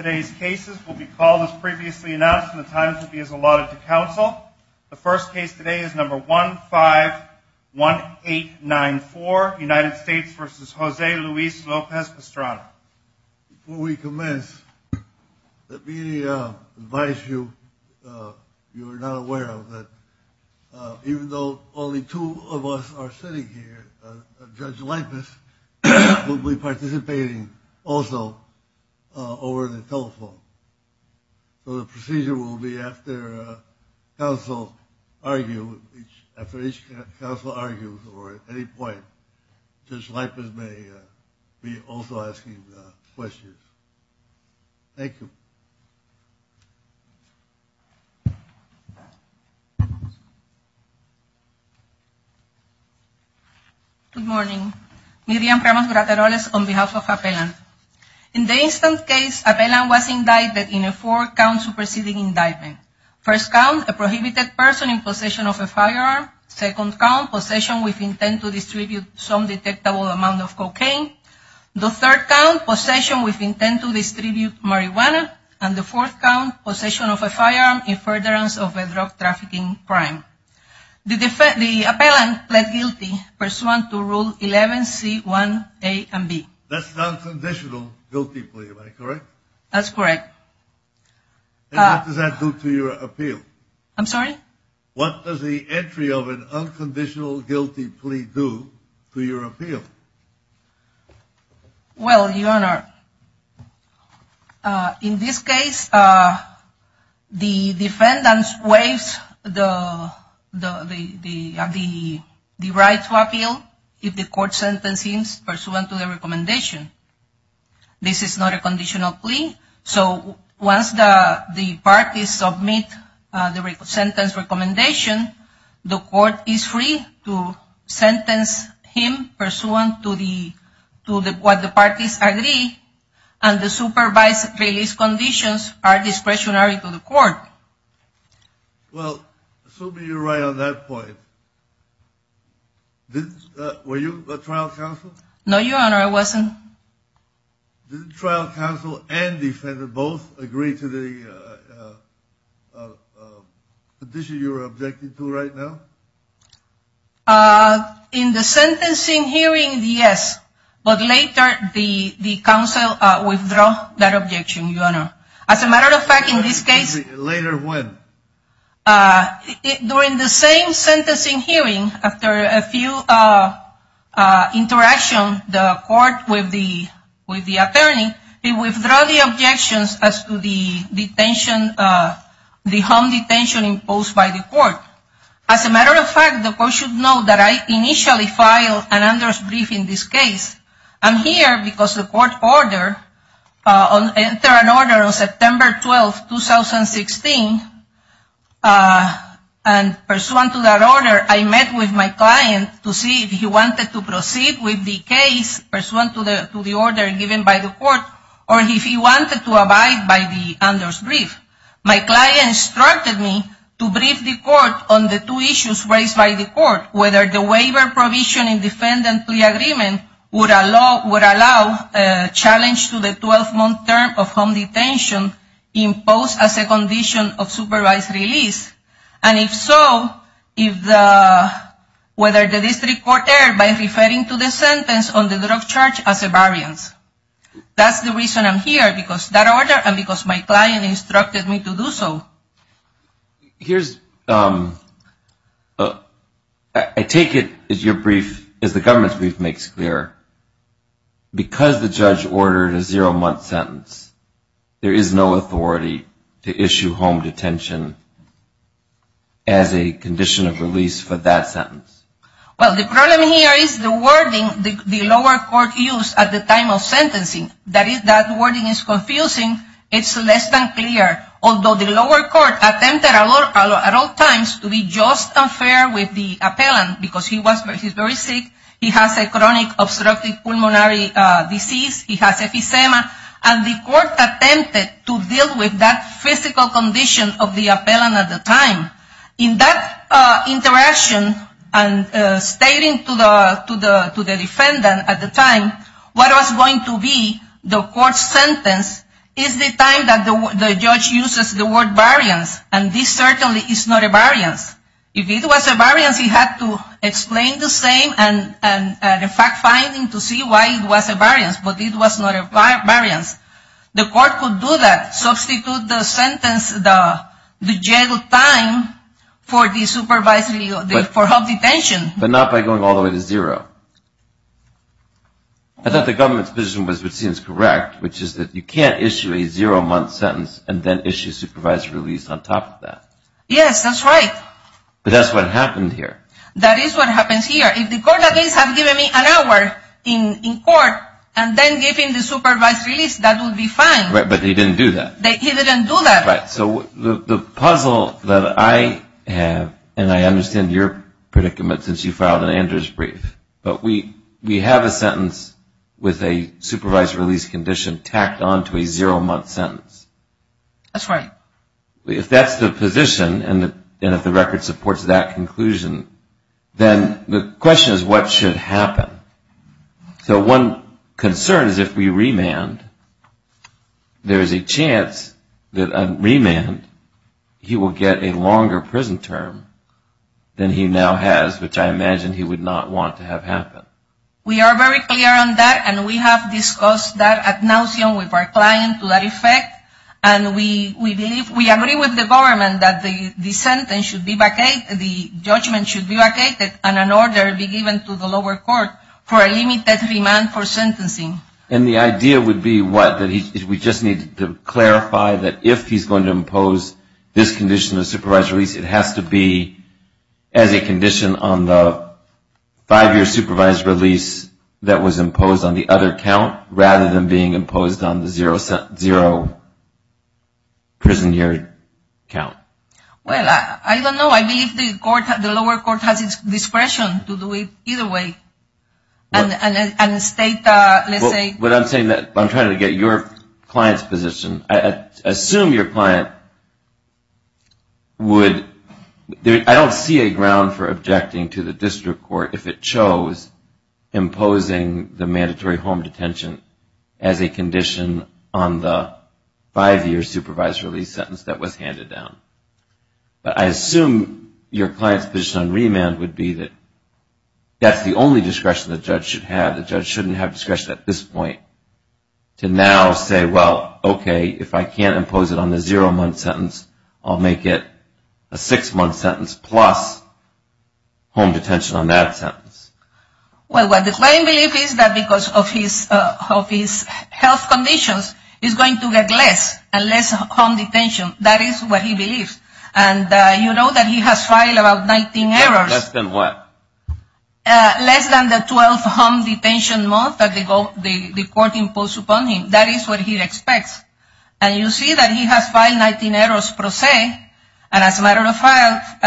Before we commence, let me advise you, if you are not aware of it, even though only two of us are sitting here, Judge Lipis will be participating also over the telephone. So the procedure will be after counsel argue, after each counsel argues or at any point, Judge Lipis may be also asking questions. Thank you. Good morning. Miriam Ramos Brateroles on behalf of Appellant. In the instant case, Appellant was indicted in a four-count superseding indictment. First count, a prohibited person in possession of a firearm. Second count, possession with intent to distribute some detectable amount of cocaine. The third count, possession with intent to distribute marijuana. And the fourth count, possession of a firearm in furtherance of a drug trafficking crime. The Appellant pled guilty pursuant to Rule 11C1A and B. That's non-conditional guilty plea, right? Correct? That's correct. And what does that do to your appeal? I'm sorry? What does the entry of an unconditional guilty plea do to your appeal? Well, Your Honor, in this case, the defendant waives the right to appeal if the court sentence is pursuant to the recommendation. This is not a conditional plea, so once the parties submit the sentence recommendation, the court is free to sentence him pursuant to what the parties agree, and the supervised release conditions are discretionary to the court. Well, assuming you're right on that point, were you a trial counsel? No, Your Honor, I wasn't. Did the trial counsel and defendant both agree to the condition you're objecting to right now? In the sentencing hearing, yes, but later the counsel withdrew that objection, Your Honor. As a matter of fact, in this case... Later when? During the same sentencing hearing, after a few interactions with the attorney, he withdrew the objections as to the home detention imposed by the court. As a matter of fact, the court should know that I initially filed an under-brief in this case. I'm here because the court entered an order on September 12, 2016, and pursuant to that order, I met with my client to see if he wanted to proceed with the case pursuant to the order given by the court, or if he wanted to abide by the under-brief. My client instructed me to brief the court on the two issues raised by the court, whether the waiver provision in defendant plea agreement would allow a challenge to the 12-month term of home detention imposed as a condition of supervised release, and if so, whether the district court erred by referring to the sentence on the drug charge as a variance. That's the reason I'm here, because of that order and because my client instructed me to do so. I take it, as the government's brief makes clear, because the judge ordered a zero-month sentence, there is no authority to issue home detention as a condition of release for that sentence. Well, the problem here is the wording the lower court used at the time of sentencing. That wording is confusing. It's less than clear, although the lower court attempted at all times to be just and fair with the appellant, because he was very sick. He has a chronic obstructive pulmonary disease. He has epistema, and the court attempted to deal with that physical condition of the appellant at the time. In that interaction, and stating to the defendant at the time what was going to be the court's sentence, is the time that the judge uses the word variance, and this certainly is not a variance. If it was a variance, he had to explain the same and, in fact, find him to see why it was a variance, but it was not a variance. The court could do that, substitute the sentence, the jail time for home detention. But not by going all the way to zero. I thought the government's position was what seems correct, which is that you can't issue a zero-month sentence and then issue supervised release on top of that. Yes, that's right. But that's what happened here. That is what happens here. If the court has given me an hour in court and then given the supervised release, that would be fine. Right, but he didn't do that. He didn't do that. Right. So the puzzle that I have, and I understand your predicament since you filed an Andrews brief, but we have a sentence with a supervised release condition tacked on to a zero-month sentence. That's right. If that's the position and if the record supports that conclusion, then the question is what should happen. So one concern is if we remand, there is a chance that a remand, he will get a longer prison term than he now has, which I imagine he would not want to have happen. We are very clear on that, and we have discussed that at Nauseum with our client to that effect, and we believe, we agree with the government that the sentence should be vacated, the judgment should be vacated and an order be given to the lower court for a limited remand for sentencing. And the idea would be what? We just need to clarify that if he's going to impose this condition of supervised release, it has to be as a condition on the five-year supervised release that was imposed on the other count rather than being imposed on the zero-prison-year count. Well, I don't know. I believe the lower court has discretion to do it either way and state, let's say. What I'm saying, I'm trying to get your client's position. I assume your client would, I don't see a ground for objecting to the district court if it chose imposing the mandatory home detention as a condition on the five-year supervised release sentence that was handed down. But I assume your client's position on remand would be that that's the only discretion the judge should have. The judge shouldn't have discretion at this point to now say, well, okay, if I can't impose it on the zero-month sentence, I'll make it a six-month sentence plus home detention on that sentence. Well, what the client believes is that because of his health conditions, he's going to get less and less home detention. That is what he believes. And you know that he has filed about 19 errors. Less than what? And you see that he has filed 19 errors per se. And as a matter of fact,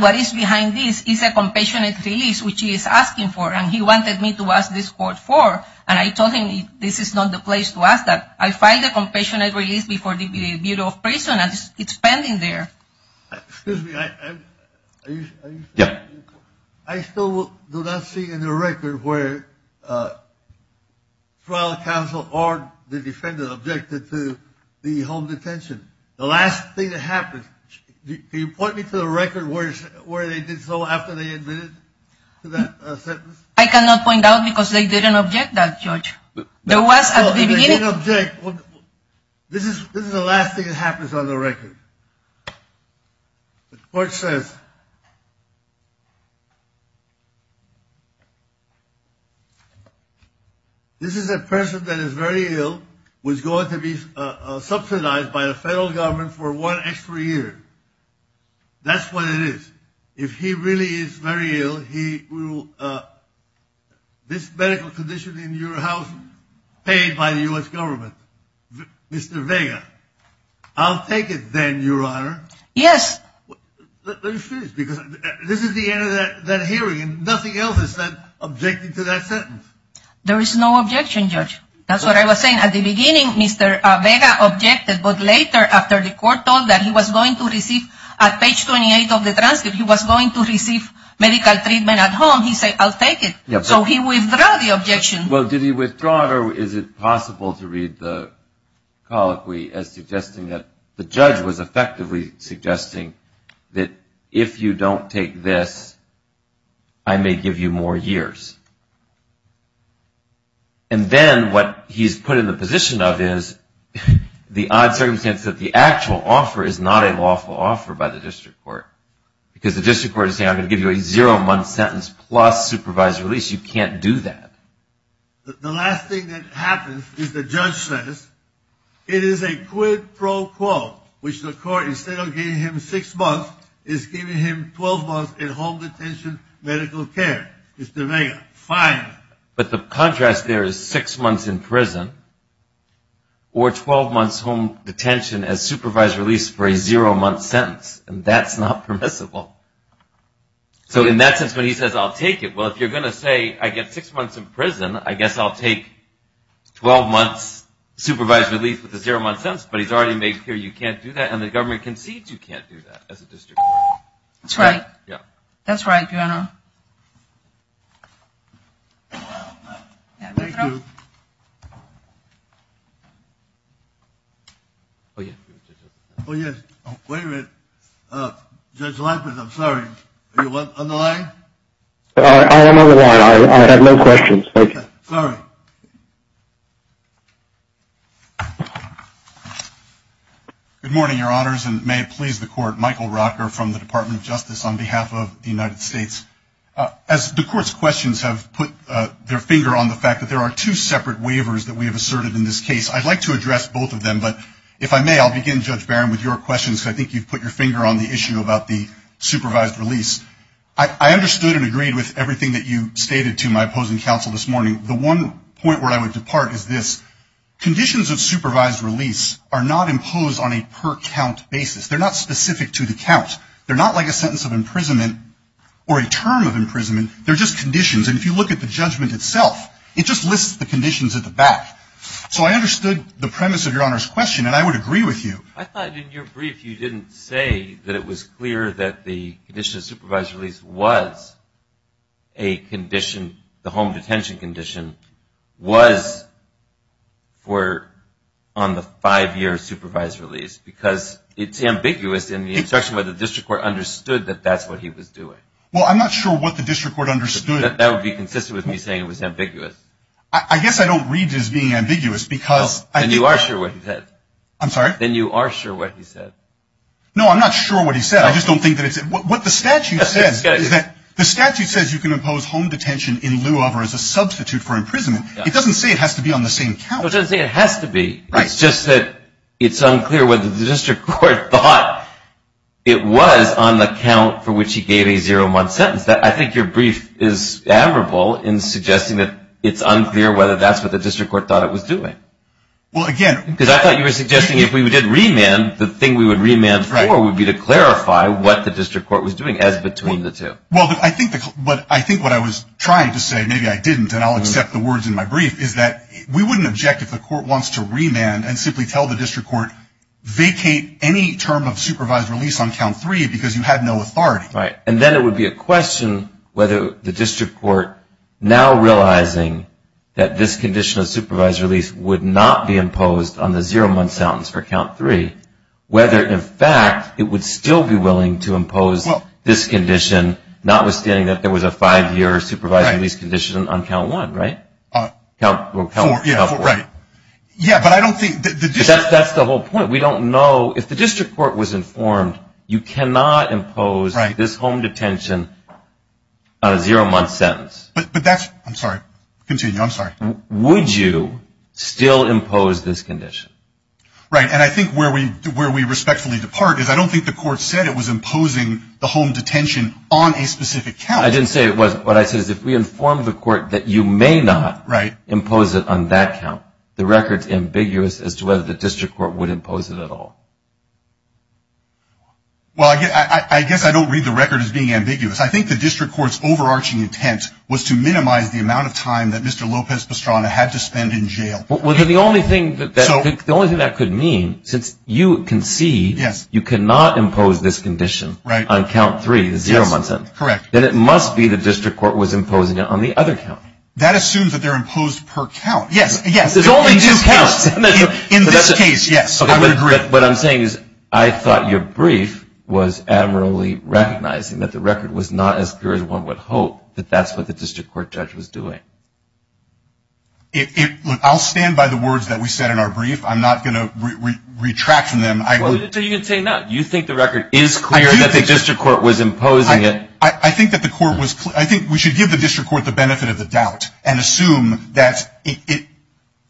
what is behind this is a compassionate release, which he is asking for. And he wanted me to ask this court for. And I told him this is not the place to ask that. I filed a compassionate release before the Bureau of Prison, and it's pending there. Excuse me. Yeah. I still do not see in the record where trial counsel or the defendant objected to the home detention. The last thing that happened, can you point me to the record where they did so after they admitted to that sentence? I cannot point out because they didn't object that, Judge. They didn't object. This is the last thing that happens on the record. The court says, this is a person that is very ill who is going to be subsidized by the federal government for one extra year. That's what it is. If he really is very ill, this medical condition in your house paid by the U.S. government. Mr. Vega. I'll take it then, Your Honor. Yes. Let me finish because this is the end of that hearing, and nothing else is said objecting to that sentence. There is no objection, Judge. That's what I was saying. At the beginning, Mr. Vega objected, but later after the court told that he was going to receive, at page 28 of the transcript, he was going to receive medical treatment at home, he said, I'll take it. So he withdrew the objection. Well, did he withdraw it, or is it possible to read the colloquy as suggesting that the judge was effectively suggesting that, if you don't take this, I may give you more years. And then what he's put in the position of is the odd circumstance that the actual offer is not a lawful offer by the district court. Because the district court is saying, I'm going to give you a zero-month sentence plus supervised release. You can't do that. The last thing that happens is the judge says, it is a quid pro quo, which the court, instead of giving him six months, is giving him 12 months in home detention medical care. Mr. Vega, fine. But the contrast there is six months in prison or 12 months home detention as supervised release for a zero-month sentence, and that's not permissible. So in that sense, when he says, I'll take it, well, if you're going to say, I get six months in prison, I guess I'll take 12 months supervised release with a zero-month sentence. Yes, but he's already made clear you can't do that, and the government concedes you can't do that as a district court. That's right. That's right. Thank you. Wait a minute. Judge Lampert, I'm sorry. Are you on the line? I am on the line. I have no questions. All right. Good morning, Your Honors, and may it please the Court. Michael Rocker from the Department of Justice on behalf of the United States. As the Court's questions have put their finger on the fact that there are two separate waivers that we have asserted in this case, I'd like to address both of them, but if I may, I'll begin, Judge Barron, with your questions, because I think you've put your finger on the issue about the supervised release. I understood and agreed with everything that you stated to my opposing counsel this morning. The one point where I would depart is this. Conditions of supervised release are not imposed on a per-count basis. They're not specific to the count. They're not like a sentence of imprisonment or a term of imprisonment. They're just conditions, and if you look at the judgment itself, it just lists the conditions at the back. So I understood the premise of Your Honor's question, and I would agree with you. I thought in your brief you didn't say that it was clear that the condition of supervised release was a condition, the home detention condition, was for on the five-year supervised release, because it's ambiguous in the instruction where the district court understood that that's what he was doing. Well, I'm not sure what the district court understood. That would be consistent with me saying it was ambiguous. I guess I don't read as being ambiguous because I think that's what he said. I'm sorry? Then you are sure what he said. No, I'm not sure what he said. I just don't think that it's – what the statute says is that the statute says you can impose home detention in lieu of or as a substitute for imprisonment. It doesn't say it has to be on the same count. It doesn't say it has to be. Right. It's just that it's unclear whether the district court thought it was on the count for which he gave a zero-month sentence. I think your brief is admirable in suggesting that it's unclear whether that's what the district court thought it was doing. Well, again – Because I thought you were suggesting if we did remand, the thing we would remand for would be to clarify what the district court was doing as between the two. Well, I think what I was trying to say, maybe I didn't, and I'll accept the words in my brief, is that we wouldn't object if the court wants to remand and simply tell the district court, vacate any term of supervised release on count three because you had no authority. Right. And then it would be a question whether the district court, now realizing that this condition of supervised release would not be imposed on the zero-month sentence for count three, whether, in fact, it would still be willing to impose this condition, notwithstanding that there was a five-year supervised release condition on count one, right? Right. Yeah, but I don't think – That's the whole point. We don't know. If the district court was informed, you cannot impose this home detention on a zero-month sentence. But that's – I'm sorry. Continue. I'm sorry. Would you still impose this condition? Right. And I think where we respectfully depart is I don't think the court said it was imposing the home detention on a specific count. I didn't say it wasn't. What I said is if we informed the court that you may not impose it on that count, the record's ambiguous as to whether the district court would impose it at all. Well, I guess I don't read the record as being ambiguous. I think the district court's overarching intent was to minimize the amount of time that Mr. Lopez-Pastrana had to spend in jail. Well, the only thing that could mean, since you concede you cannot impose this condition on count three, the zero-month sentence, then it must be the district court was imposing it on the other count. That assumes that they're imposed per count. Yes, yes. There's only two counts. In this case, yes. I would agree. What I'm saying is I thought your brief was admirably recognizing that the record was not as clear as one would hope, that that's what the district court judge was doing. Look, I'll stand by the words that we said in our brief. I'm not going to retract from them. You can say no. Do you think the record is clear that the district court was imposing it? I think that the court was clear. I think we should give the district court the benefit of the doubt and assume that it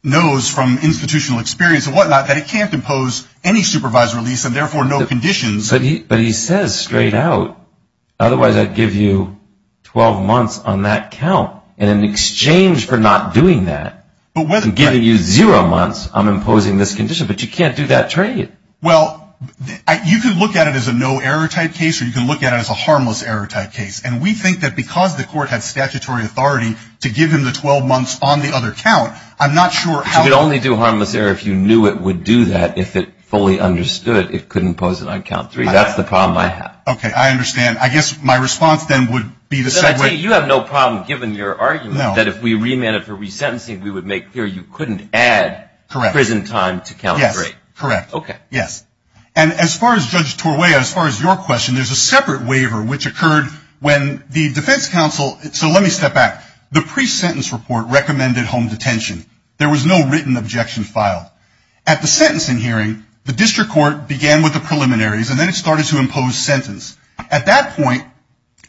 knows from institutional experience and whatnot that it can't impose any supervised release and, therefore, no conditions. But he says straight out, otherwise I'd give you 12 months on that count. And in exchange for not doing that and giving you zero months, I'm imposing this condition. But you can't do that trade. Well, you can look at it as a no-error type case or you can look at it as a harmless-error type case. And we think that because the court had statutory authority to give him the 12 months on the other count, I'm not sure how to do it. But you could only do harmless-error if you knew it would do that. If it fully understood it couldn't impose it on count three. That's the problem I have. Okay, I understand. I guess my response then would be the same way. You have no problem, given your argument, that if we remanded for resentencing, we would make clear you couldn't add prison time to count three. Yes, correct. Okay. Yes. And as far as Judge Torvea, as far as your question, there's a separate waiver which occurred when the defense counsel – so let me step back. The pre-sentence report recommended home detention. There was no written objection filed. At the sentencing hearing, the district court began with the preliminaries and then it started to impose sentence. At that point,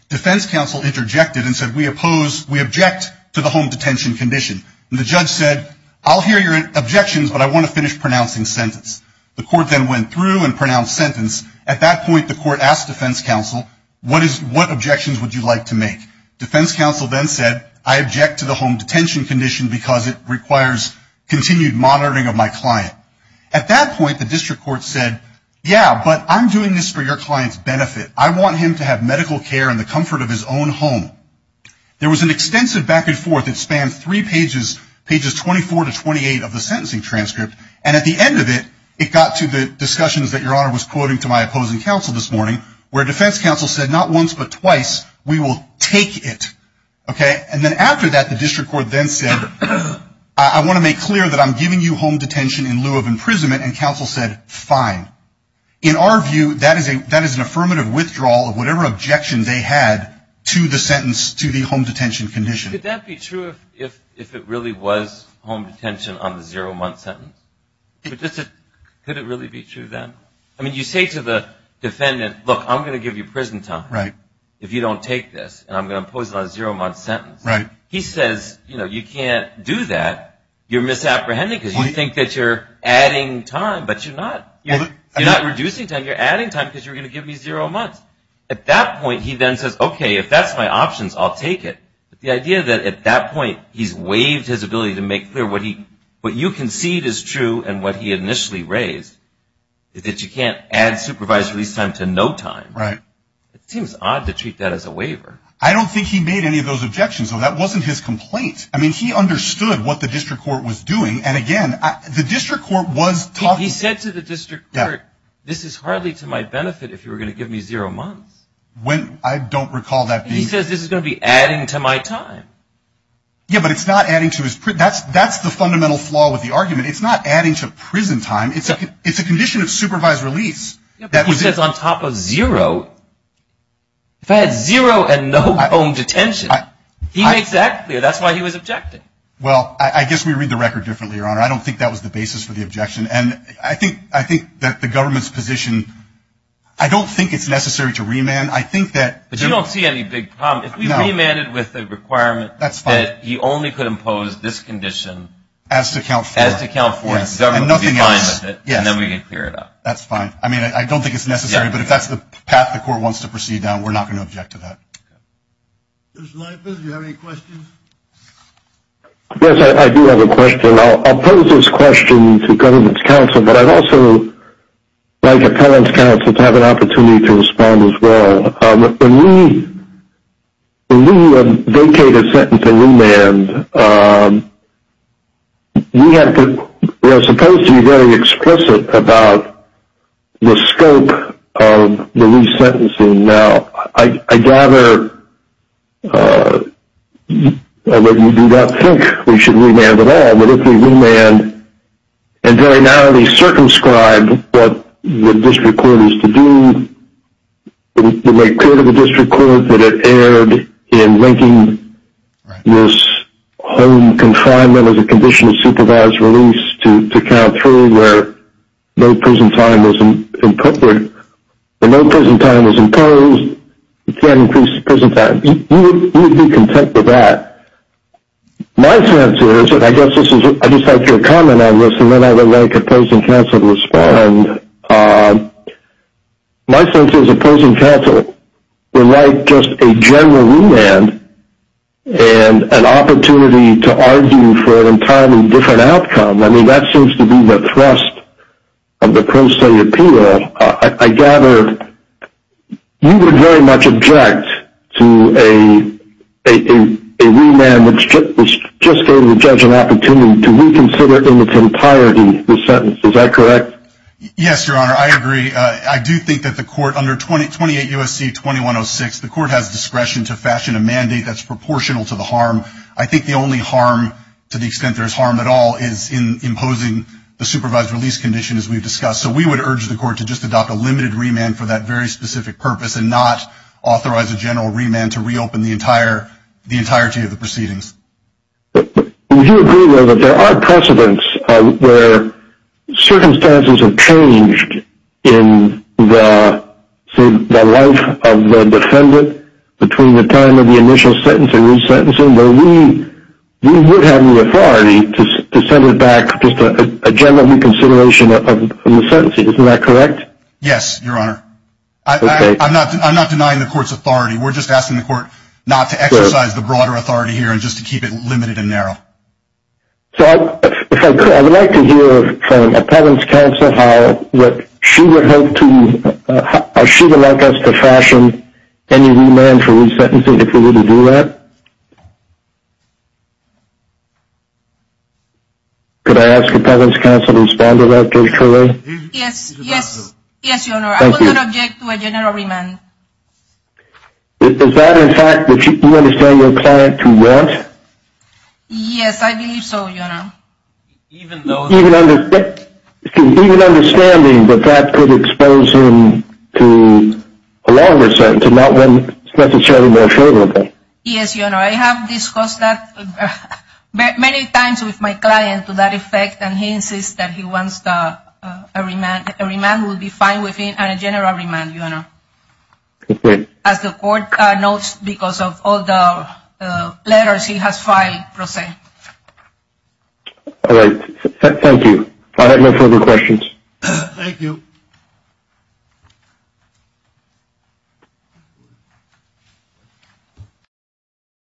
defense counsel interjected and said, we oppose – we object to the home detention condition. And the judge said, I'll hear your objections, but I want to finish pronouncing sentence. The court then went through and pronounced sentence. At that point, the court asked defense counsel, what objections would you like to make? Defense counsel then said, I object to the home detention condition because it requires continued monitoring of my client. At that point, the district court said, yeah, but I'm doing this for your client's benefit. I want him to have medical care in the comfort of his own home. There was an extensive back and forth that spanned three pages, pages 24 to 28 of the sentencing transcript. And at the end of it, it got to the discussions that Your Honor was quoting to my opposing counsel this morning, where defense counsel said, not once but twice, we will take it. Okay? And then after that, the district court then said, I want to make clear that I'm giving you home detention in lieu of imprisonment. And counsel said, fine. In our view, that is an affirmative withdrawal of whatever objection they had to the sentence, to the home detention condition. Could that be true if it really was home detention on the zero-month sentence? Could it really be true then? I mean, you say to the defendant, look, I'm going to give you prison time if you don't take this, and I'm going to impose it on a zero-month sentence. He says, you know, you can't do that. You're misapprehending because you think that you're adding time, but you're not. You're not reducing time. You're adding time because you're going to give me zero months. At that point, he then says, okay, if that's my options, I'll take it. But the idea that at that point he's waived his ability to make clear what you concede is true and what he initially raised is that you can't add supervised release time to no time. Right. It seems odd to treat that as a waiver. I don't think he made any of those objections, though. That wasn't his complaint. I mean, he understood what the district court was doing. And, again, the district court was talking. He said to the district court, this is hardly to my benefit if you were going to give me zero months. When? I don't recall that being. He says this is going to be adding to my time. Yeah, but it's not adding to his. That's the fundamental flaw with the argument. It's not adding to prison time. It's a condition of supervised release. Yeah, but he says on top of zero. If I had zero and no home detention, he makes that clear. That's why he was objecting. Well, I guess we read the record differently, Your Honor. I don't think that was the basis for the objection. And I think that the government's position, I don't think it's necessary to remand. But you don't see any big problem. If we remanded with a requirement that he only could impose this condition. As to count for it. As to count for it. And nothing else. And then we could clear it up. That's fine. I mean, I don't think it's necessary. But if that's the path the court wants to proceed down, we're not going to object to that. Judge Leibovitz, do you have any questions? Yes, I do have a question. I'll pose this question to government counsel, but I'd also like appellant's counsel to have an opportunity to respond as well. When we vacate a sentence and remand, we are supposed to be very explicit about the scope of the resentencing. Now, I gather that you do not think we should remand at all. But if we remand and very narrowly circumscribe what the district court is to do, to make clear to the district court that it erred in linking this home confinement as a condition of supervised release to count three where no prison time was imposed. You can't increase the prison time. You would be content with that. My sense is, and I guess I'd just like your comment on this, and then I would like appellant's counsel to respond. My sense is appellant's counsel would like just a general remand and an opportunity to argue for an entirely different outcome. I mean, that seems to be the thrust of the pro se appeal. Now, I gather you would very much object to a remand which just gave the judge an opportunity to reconsider in its entirety the sentence. Is that correct? Yes, Your Honor. I agree. I do think that the court, under 28 U.S.C. 2106, the court has discretion to fashion a mandate that's proportional to the harm. I think the only harm, to the extent there is harm at all, is in imposing the supervised release condition as we've discussed. So we would urge the court to just adopt a limited remand for that very specific purpose and not authorize a general remand to reopen the entirety of the proceedings. Would you agree, though, that there are precedents where circumstances have changed in the life of the defendant between the time of the initial sentence and resentencing, where we would have the authority to send it back just a general reconsideration of the sentencing. Isn't that correct? Yes, Your Honor. I'm not denying the court's authority. We're just asking the court not to exercise the broader authority here and just to keep it limited and narrow. So I would like to hear from an appellant's counsel how she would like us to fashion any remand for resentencing if we were to do that. Could I ask an appellant's counsel to respond to that, Judge Trullo? Yes, Your Honor. I would not object to a general remand. Is that a fact that you understand your client to want? Yes, I believe so, Your Honor. Even understanding that that could expose him to a longer sentence and not one that's necessarily more favorable. Yes, Your Honor. I have discussed that many times with my client to that effect, and he insists that he wants a remand. A remand would be fine with him, and a general remand, Your Honor. As the court notes, because of all the letters, he has filed resent. All right. Thank you. I have no further questions. Thank you.